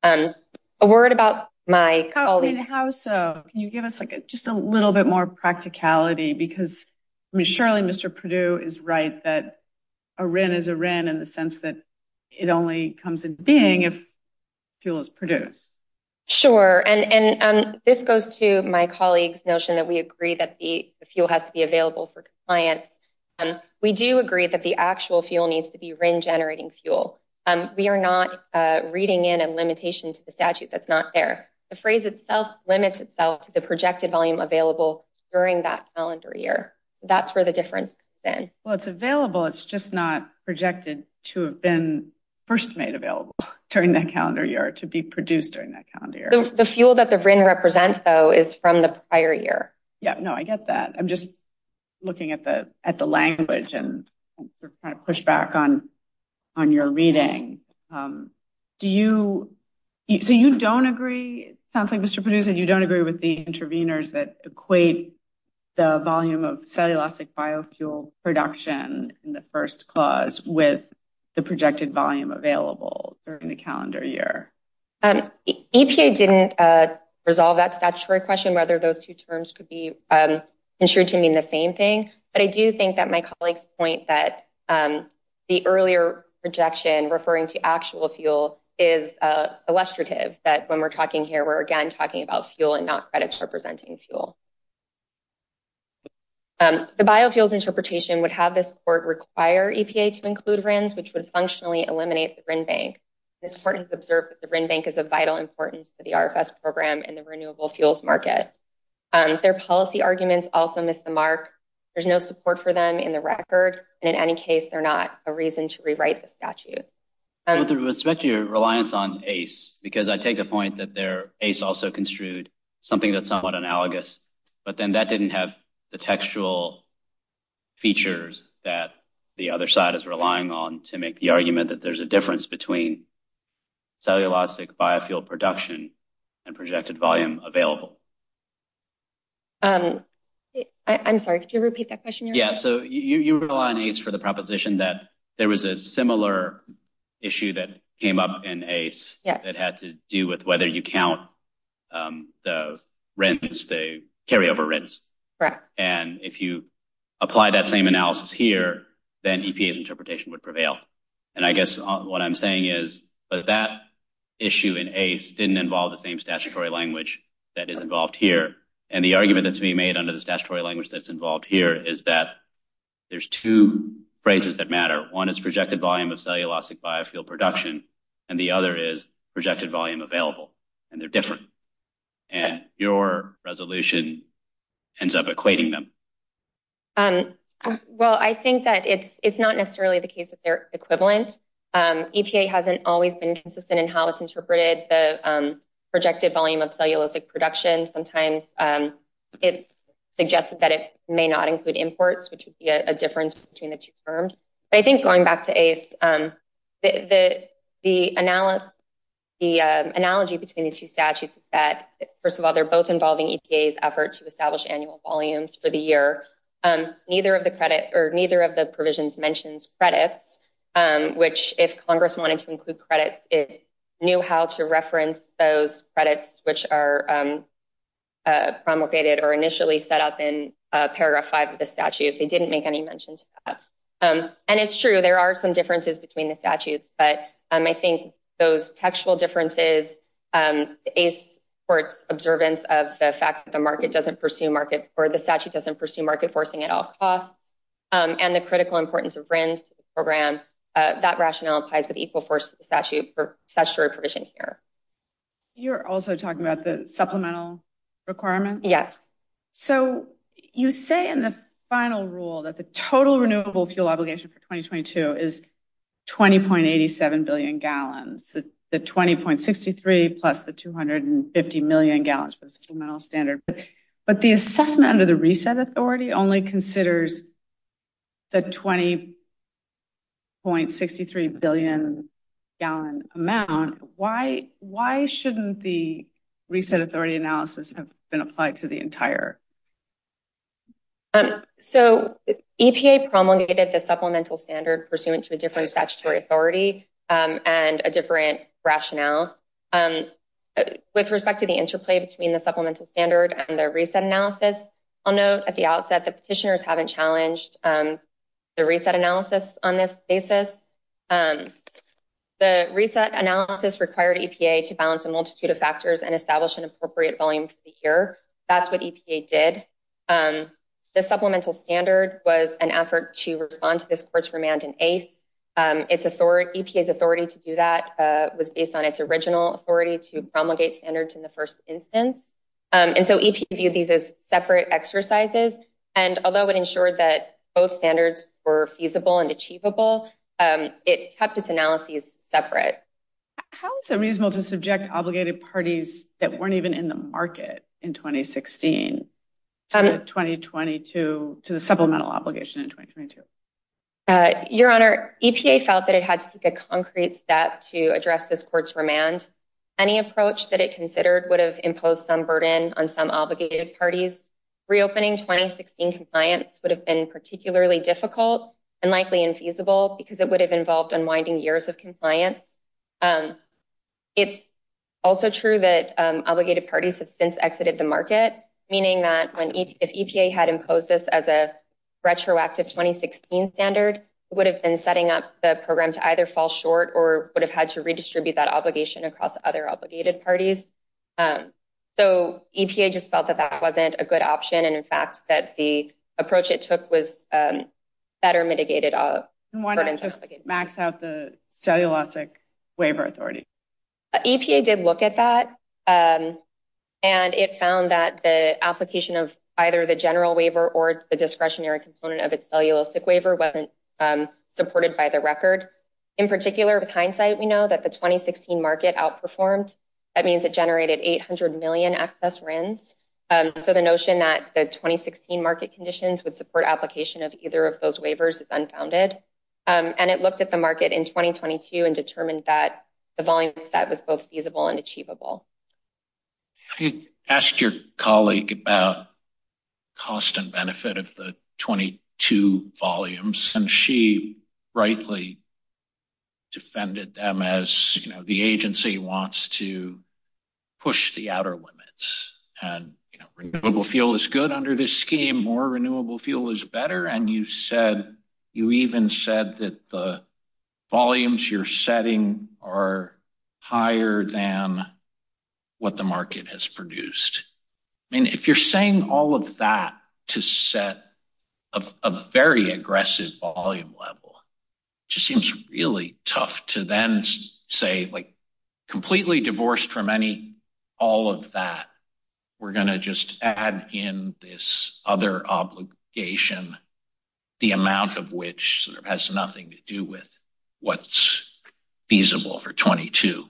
A word about my colleague. How so? Can you give us just a little bit more practicality? Because surely Mr. Perdue is right that a Wren is a Wren in the sense that it only comes into being if fuel is produced. Sure. And this goes to my colleague's notion that we agree that the fuel has to be available for compliance. We do agree that the actual fuel needs to be Wren generating fuel. We are not reading in a limitation to the statute that's not there. The phrase itself limits itself to the projected volume available during that calendar year. That's where the difference is in. Well, it's available. It's just not projected to have been first made available during that calendar year to be produced during that calendar year. The fuel that the Wren represents, though, is from the prior year. Yeah. No, I get that. I'm just looking at the language and trying to push back on your reading. So you don't agree. Sounds like Mr. Perdue said you don't agree with the intervenors that equate the volume of cellulosic biofuel production in the first clause with the projected volume available during the calendar year. EPA didn't resolve that statutory question, whether those two terms could be ensured to mean the same thing. But I do think that my colleagues point that the earlier rejection referring to actual fuel is illustrative that when we're talking here, we're again talking about fuel and not credits representing fuel. The biofuels interpretation would have this court require EPA to include Wrens, which would functionally eliminate the Wren Bank. This court has observed that the Wren Bank is of vital importance to the RFS program and the renewable fuels market. Their policy arguments also missed the mark. There's no support for them in the record. And in any case, they're not a reason to rewrite the statute. With respect to your reliance on ACE, because I take the point that their ACE also construed something that's somewhat analogous, but then that didn't have the textual features that the other side is relying on to make the argument that there's a difference between cellulosic biofuel production and projected volume available. I'm sorry, could you repeat that question? Yeah, so you rely on ACE for the proposition that there was a similar issue that came up in ACE that had to do with whether you count the Wrens, the carryover Wrens. And if you apply that same analysis here, then EPA's interpretation would prevail. And I guess what I'm saying is, but that issue in ACE didn't involve the same statutory language that is involved here. And the argument that's being made under the statutory language that's involved here is that there's two phrases that matter. One is projected volume of cellulosic biofuel production, and the other is projected volume available. And they're different. And your resolution ends up equating them. Well, I think that it's not necessarily the case that they're equivalent. EPA hasn't always been consistent in how it's interpreted the projected volume of cellulosic production. Sometimes it's suggested that it may not include imports, which would be a difference between the two terms. But I think going back to ACE, the analogy between the two statutes is that, first of all, they're both involving EPA's effort to establish annual volumes for the year. Neither of the credit or neither of the provisions mentions credits, which if Congress wanted to include credits, it knew how to reference those credits, which are promulgated or initially set up in paragraph five of the statute. They didn't make any mention to that. And it's true, there are some differences between the statutes, but I think those textual differences, ACE court's observance of the fact that the statute doesn't pursue market forcing at all costs, and the critical importance of RINs to the program, that rationale applies with equal force to the statutory provision here. You're also talking about the supplemental requirements? Yes. So you say in the final rule that the total renewable fuel obligation for 2022 is 20.87 billion gallons, the 20.63 plus the 250 million gallons for the supplemental standard. But the assessment under the reset authority only considers the 20.63 billion gallon amount. Why shouldn't the reset authority analysis have been applied to the entire? So EPA promulgated the supplemental standard pursuant to a different statutory authority and a different rationale. With respect to the interplay between the supplemental standard and the reset analysis, I'll note at the outset, the petitioners haven't challenged the reset analysis on this basis. The reset analysis required EPA to balance a multitude of factors and establish an appropriate volume for the year. That's what EPA did. The supplemental standard was an effort to respond to this court's remand in ACE. EPA's authority to do that was based on its original authority to promulgate standards in the first instance. And so EPA viewed these as separate exercises. And although it ensured that both standards were feasible and achievable, it kept its analyses separate. How is it reasonable to subject obligated parties that weren't even in the market in 2016 to 2022, to the supplemental obligation in 2022? Your Honor, EPA felt that it had to take a concrete step to address this court's remand. Any approach that it considered would have imposed some burden on some obligated parties. Reopening 2016 compliance would have been particularly difficult and likely infeasible because it would have involved unwinding years of compliance. It's also true that obligated parties have since exited the market, meaning that if EPA had imposed this as a retroactive 2016 standard, it would have been setting up the program to either fall short or would have had to redistribute that obligation across other obligated parties. And so EPA just felt that that wasn't a good option. And in fact, that the approach it took was better mitigated. Why not just max out the cellulosic waiver authority? EPA did look at that and it found that the application of either the general waiver or the discretionary component of its cellulosic waiver wasn't supported by the record. In particular, with hindsight, we know that the 2016 market outperformed. That means it generated 800 million excess RINs. So the notion that the 2016 market conditions would support application of either of those waivers is unfounded. And it looked at the market in 2022 and determined that the volume set was both feasible and achievable. I asked your colleague about cost and benefit of the 22 volumes, and she rightly defended them as the agency wants to push the outer limits. And renewable fuel is good under this scheme. More renewable fuel is better. And you even said that the volumes you're setting are higher than what the market has produced. I mean, if you're saying all of that to set a very aggressive volume level, it just seems really tough to then say, like, completely divorced from any, all of that. We're going to just add in this other obligation, the amount of which sort of has nothing to do with what's feasible for 22.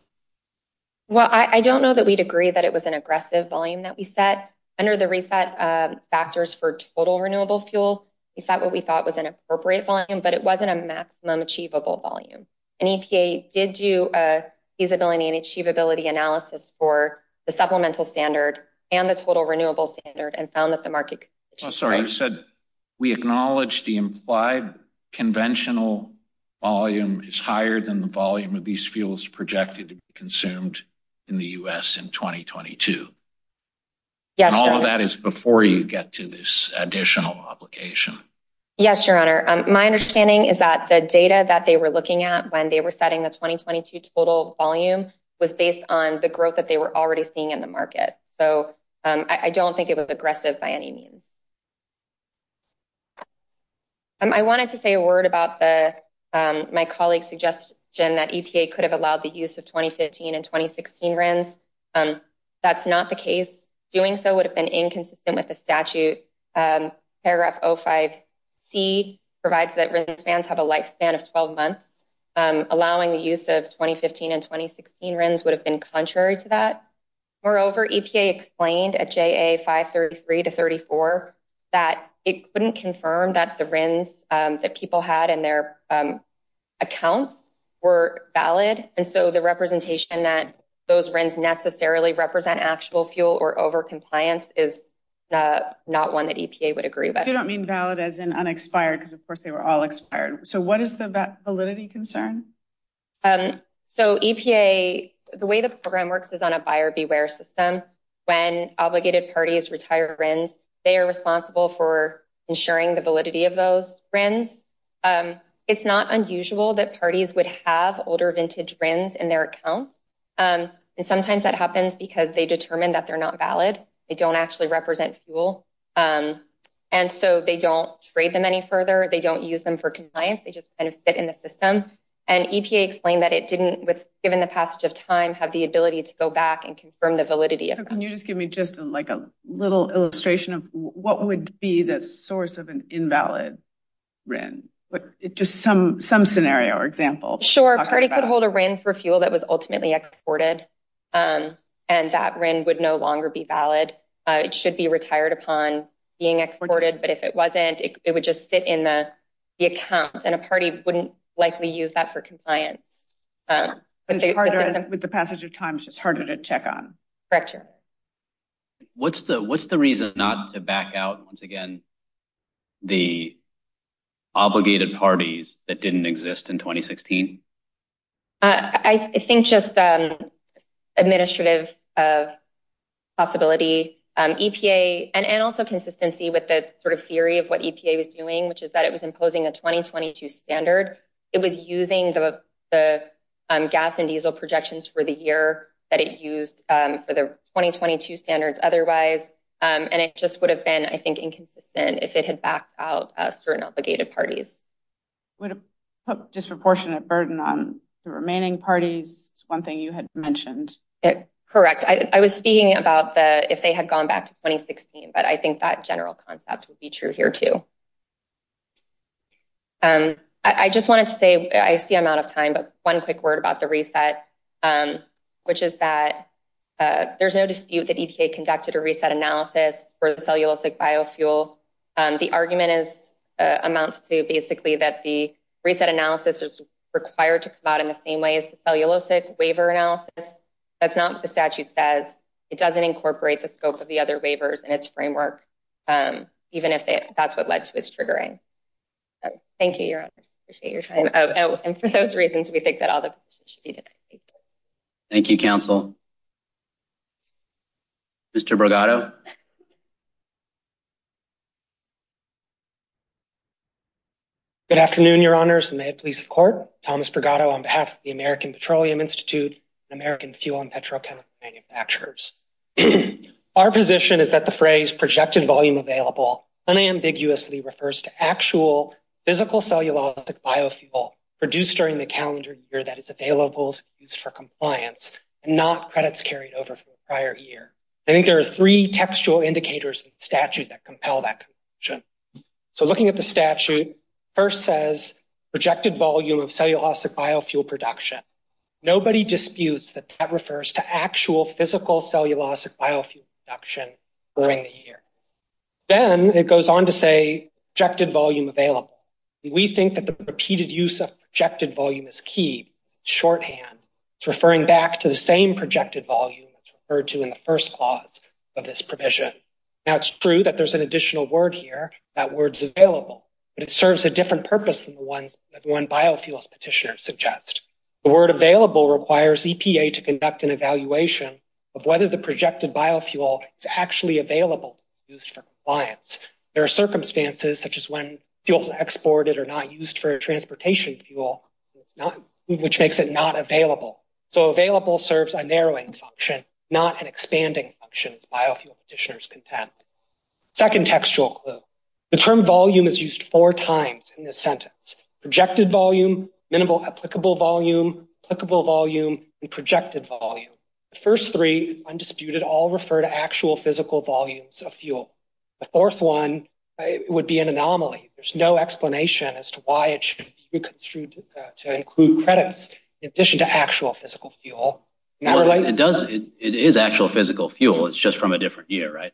Well, I don't know that we'd agree that it was an aggressive volume that we set. Under the reset factors for total renewable fuel, we set what we thought was an appropriate volume, but it wasn't a maximum achievable volume. And EPA did do a feasibility and achievability analysis for the supplemental standard and the total renewable standard and found that the market. We acknowledge the implied conventional volume is higher than the volume of these fuels projected to be consumed in the U.S. in 2022. All of that is before you get to this additional obligation. Yes, your honor. My understanding is that the data that they were looking at when they were setting the 2022 total volume was based on the growth that they were already seeing in the market. So I don't think it was aggressive by any means. I wanted to say a word about my colleague's suggestion that EPA could have allowed the use of 2015 and 2016 RINs. That's not the case. Doing so would have been inconsistent with the statute. Paragraph 05C provides that RINs have a lifespan of 12 months. Allowing the use of 2015 and 2016 RINs would have been contrary to that. Moreover, EPA explained at JA 533 to 34 that it couldn't confirm that the RINs that people had in their accounts were valid. And so the representation that those RINs necessarily represent actual fuel or over compliance is not one that EPA would agree with. You don't mean valid as in unexpired because of course they were all expired. So what is the validity concern? So EPA, the way the program works is on a buyer beware system. When obligated parties retire RINs, they are responsible for ensuring the validity of those RINs. It's not unusual that parties would have older vintage RINs in their accounts. Sometimes that happens because they determine that they're not valid. They don't actually represent fuel. And so they don't trade them any further. They don't use them for compliance. They just kind of sit in the system. And EPA explained that it didn't, given the passage of time, have the ability to go back and confirm the validity of it. Can you just give me just like a little illustration of what would be the source of an just some scenario or example? Sure, a party could hold a RIN for fuel that was ultimately exported and that RIN would no longer be valid. It should be retired upon being exported. But if it wasn't, it would just sit in the account and a party wouldn't likely use that for compliance. With the passage of time, it's just harder to check on. Correct. What's the what's the reason not to back out, once again, the obligated parties that didn't exist in 2016? I think just administrative possibility, EPA and also consistency with the sort of theory of what EPA was doing, which is that it was imposing a 2022 standard. It was using the gas and diesel projections for the year that it used for the 2022 standards otherwise. And it just would have been, I think, inconsistent if it had backed out certain obligated parties. It would have put a disproportionate burden on the remaining parties. It's one thing you had mentioned. Correct. I was speaking about the if they had gone back to 2016. But I think that general concept would be true here, too. And I just wanted to say, I see I'm out of time, but one quick word about the reset, which is that there's no dispute that EPA conducted a reset analysis for the cellulosic biofuel. The argument is amounts to basically that the reset analysis is required to come out in the same way as the cellulosic waiver analysis. That's not what the statute says. It doesn't incorporate the scope of the other waivers and its framework, even if that's what led to its triggering. Thank you, your honor. Appreciate your time. Oh, and for those reasons, we think that all the. Thank you, counsel. Mr. Borgato. Good afternoon, your honors. May it please the court. Thomas Borgato on behalf of the American Petroleum Institute, American Fuel and Petrochemical Manufacturers. Our position is that the phrase projected volume available unambiguously refers to actual physical cellulosic biofuel produced during the calendar year that is available for compliance, not credits carried over from a prior year. I think there are three textual indicators in the statute that compel that. So looking at the statute first says projected volume of cellulosic biofuel production. Nobody disputes that that refers to actual physical cellulosic biofuel production during the year. Then it goes on to say projected volume available. We think that the repeated use of projected volume is key. Shorthand, it's referring back to the same projected volume referred to in the first clause of this provision. Now, it's true that there's an additional word here that words available, but it serves a different purpose than the ones that one biofuels petitioner suggest. The word available requires EPA to conduct an evaluation of whether the projected biofuel is actually available to be used for compliance. There are circumstances such as when fuels exported are not used for transportation fuel, which makes it not available. So available serves a narrowing function, not an expanding function as biofuel petitioners contend. Second textual clue. The term volume is used four times in this sentence. Projected volume, minimal applicable volume, applicable volume, and projected volume. The first three, undisputed, all refer to actual physical volumes of fuel. The fourth one would be an anomaly. There's no explanation as to why it should include credits in addition to actual physical fuel. It is actual physical fuel. It's just from a different year, right?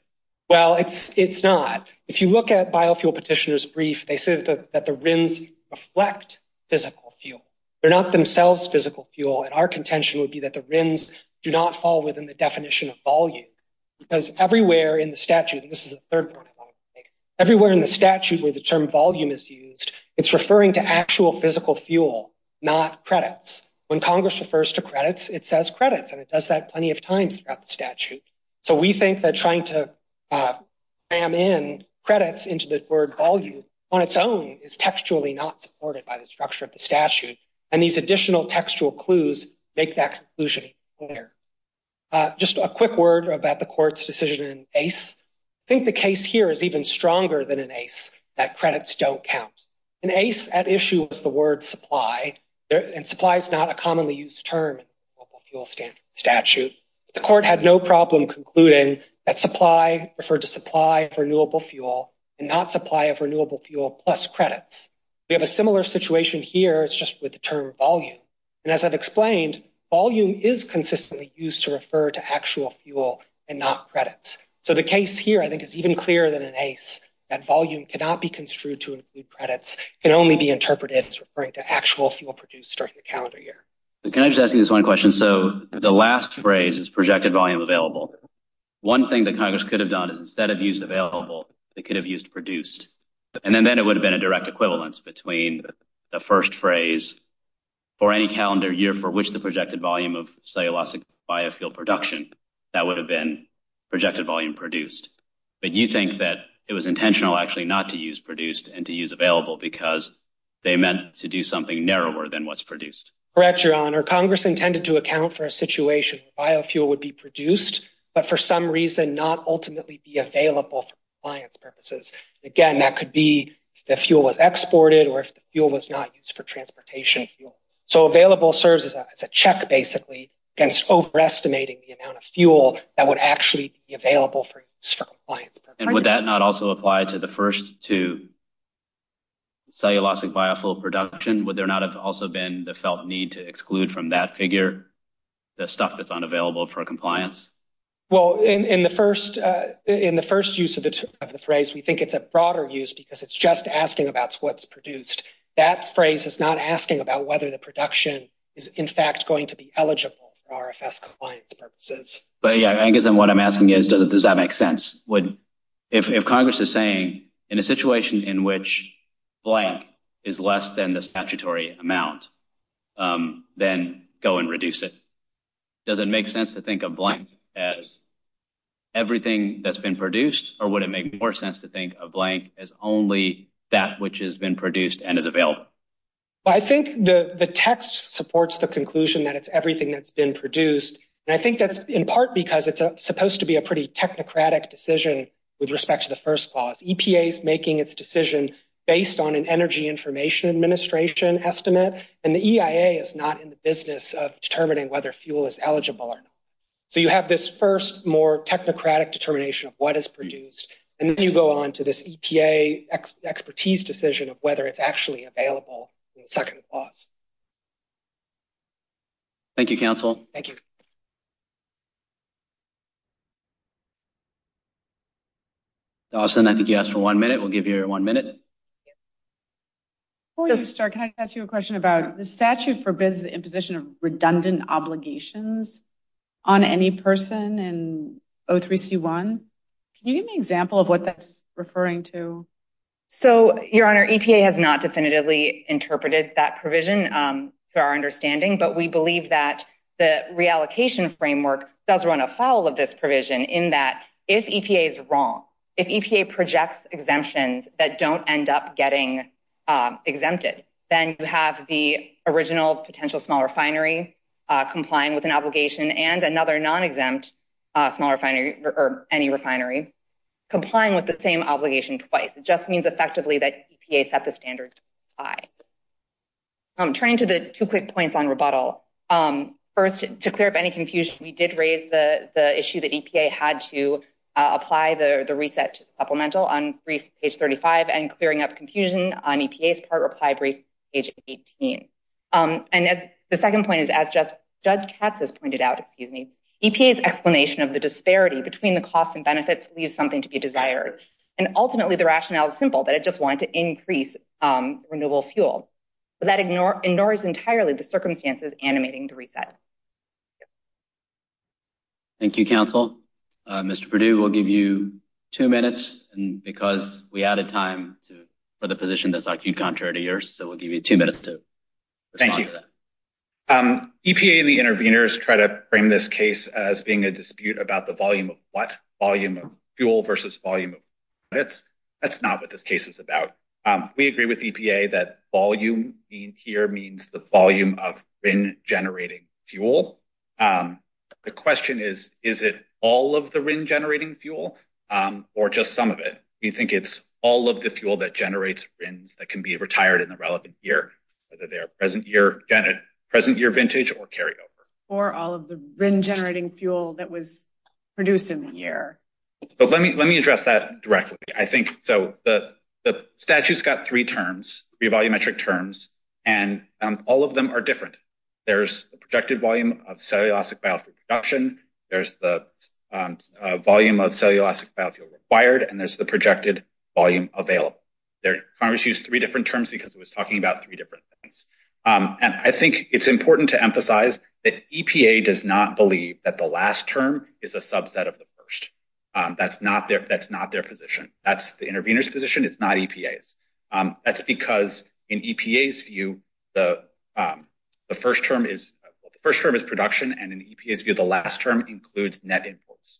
Well, it's not. If you look at biofuel petitioners brief, they say that the RINs reflect physical fuel. They're not themselves physical fuel, and our contention would be that the RINs do not fall within the definition of volume. Because everywhere in the statute, and this is the third point I want to make, everywhere in the statute where the term volume is used, it's referring to actual physical fuel, not credits. When Congress refers to credits, it says credits, and it does that plenty of times throughout the statute. So we think that trying to cram in credits into the word volume on its own is textually not supported by the structure of the statute, and these additional textual clues make that conclusion even clearer. Just a quick word about the court's decision in ACE. I think the case here is even stronger than an ACE, that credits don't count. An ACE at issue is the word supply, and supply is not a commonly used term in the local fuel standard statute. The court had no problem concluding that supply referred to supply of renewable fuel and not supply of renewable fuel plus credits. We have a similar situation here, it's just with the term volume. And as I've explained, volume is consistently used to refer to actual fuel and not credits. So the case here, I think, is even clearer than an ACE, that volume cannot be construed to include credits, can only be interpreted as referring to actual fuel produced during the calendar year. Can I just ask you this one question? The last phrase is projected volume available. One thing that Congress could have done is instead of used available, they could have used produced. And then it would have been a direct equivalence between the first phrase or any calendar year for which the projected volume of cellulosic biofuel production, that would have been projected volume produced. But you think that it was intentional actually not to use produced and to use available because Correct, Your Honor. Congress intended to account for a situation where biofuel would be produced, but for some reason not ultimately be available for compliance purposes. Again, that could be if the fuel was exported or if the fuel was not used for transportation fuel. So available serves as a check, basically, against overestimating the amount of fuel that would actually be available for use for compliance purposes. And would that not also apply to the first two cellulosic biofuel production? Would there not have also been the felt need to exclude from that figure the stuff that's unavailable for compliance? Well, in the first use of the phrase, we think it's a broader use because it's just asking about what's produced. That phrase is not asking about whether the production is, in fact, going to be eligible for RFS compliance purposes. But yeah, I guess then what I'm asking is, does that make sense? If Congress is saying in a situation in which blank is less than the statutory amount, then go and reduce it. Does it make sense to think of blank as everything that's been produced? Or would it make more sense to think of blank as only that which has been produced and is available? I think the text supports the conclusion that it's everything that's been produced. And I think that's in part because it's supposed to be a pretty technocratic decision with respect to the first clause. EPA is making its decision based on an Energy Information Administration estimate, and the EIA is not in the business of determining whether fuel is eligible or not. So you have this first, more technocratic determination of what is produced, and then you go on to this EPA expertise decision of whether it's actually available in the second clause. Thank you, counsel. Thank you. Dawson, I think you asked for one minute. We'll give you one minute. Before we start, can I ask you a question about the statute forbids the imposition of redundant obligations on any person in O3C1? Can you give me an example of what that's referring to? So, Your Honor, EPA has not definitively interpreted that provision, to our understanding. But we believe that the reallocation framework does run afoul of this provision in that if EPA is wrong, if EPA projects exemptions that don't end up getting exempted, then you have the original potential small refinery complying with an obligation and another non-exempt small refinery or any refinery complying with the same obligation twice. It just means effectively that EPA set the standard high. I'm turning to the two quick points on rebuttal. First, to clear up any confusion, we did raise the issue that EPA had to apply the reset to supplemental on brief page 35 and clearing up confusion on EPA's part reply brief page 18. And the second point is, as Judge Katz has pointed out, excuse me, EPA's explanation of the disparity between the costs and benefits leaves something to be desired. And ultimately, the rationale is simple, that it just wanted to increase renewable fuel. But that ignores entirely the circumstances animating the reset. Thank you, counsel. Mr. Perdue, we'll give you two minutes because we added time for the position that's acute contrary to yours. So we'll give you two minutes to respond to that. EPA and the interveners try to frame this case as being a dispute about the volume of volume of fuel versus volume of benefits. That's not what this case is about. We agree with EPA that volume here means the volume of generating fuel. The question is, is it all of the generating fuel or just some of it? Do you think it's all of the fuel that generates that can be retired in the relevant year, whether they're present year, present year vintage or carryover? Or all of the generating fuel that was produced in the year. But let me let me address that directly. I think so. The statute's got three terms, three volumetric terms, and all of them are different. There's a projected volume of cellulosic biofuel production. There's the volume of cellulosic biofuel required. And there's the projected volume available there. Congress used three different terms because it was talking about three different things. And I think it's important to emphasize that EPA does not believe that the last term is a subset of the first. That's not their position. That's the intervener's position. It's not EPA's. That's because in EPA's view, the first term is production. And in EPA's view, the last term includes net imports.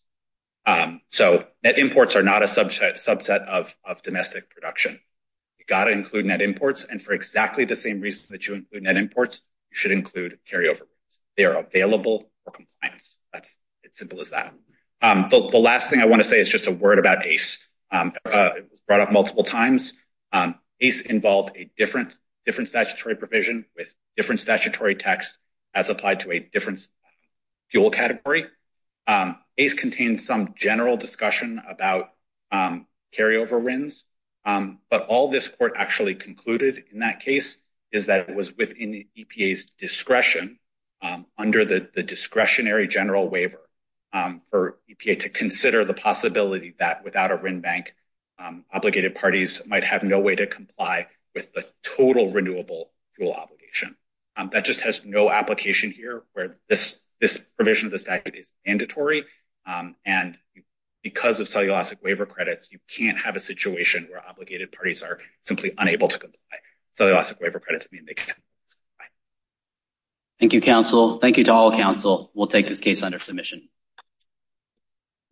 So net imports are not a subset of domestic production. You've got to include net imports. And for exactly the same reasons that you include net imports, you should include carryover. They are available for compliance. That's as simple as that. The last thing I want to say is just a word about ACE. It was brought up multiple times. ACE involved a different statutory provision with different statutory text as applied to a different fuel category. ACE contains some general discussion about carryover RINs. All this court actually concluded in that case is that it was within EPA's discretion under the discretionary general waiver for EPA to consider the possibility that without a RIN bank, obligated parties might have no way to comply with the total renewable fuel obligation. That just has no application here where this provision of this statute is mandatory. And because of cellulosic waiver credits, you can't have a situation where obligated parties are simply unable to comply. Cellulosic waiver credits mean they can't comply. Thank you, counsel. Thank you to all counsel. We'll take this case under submission.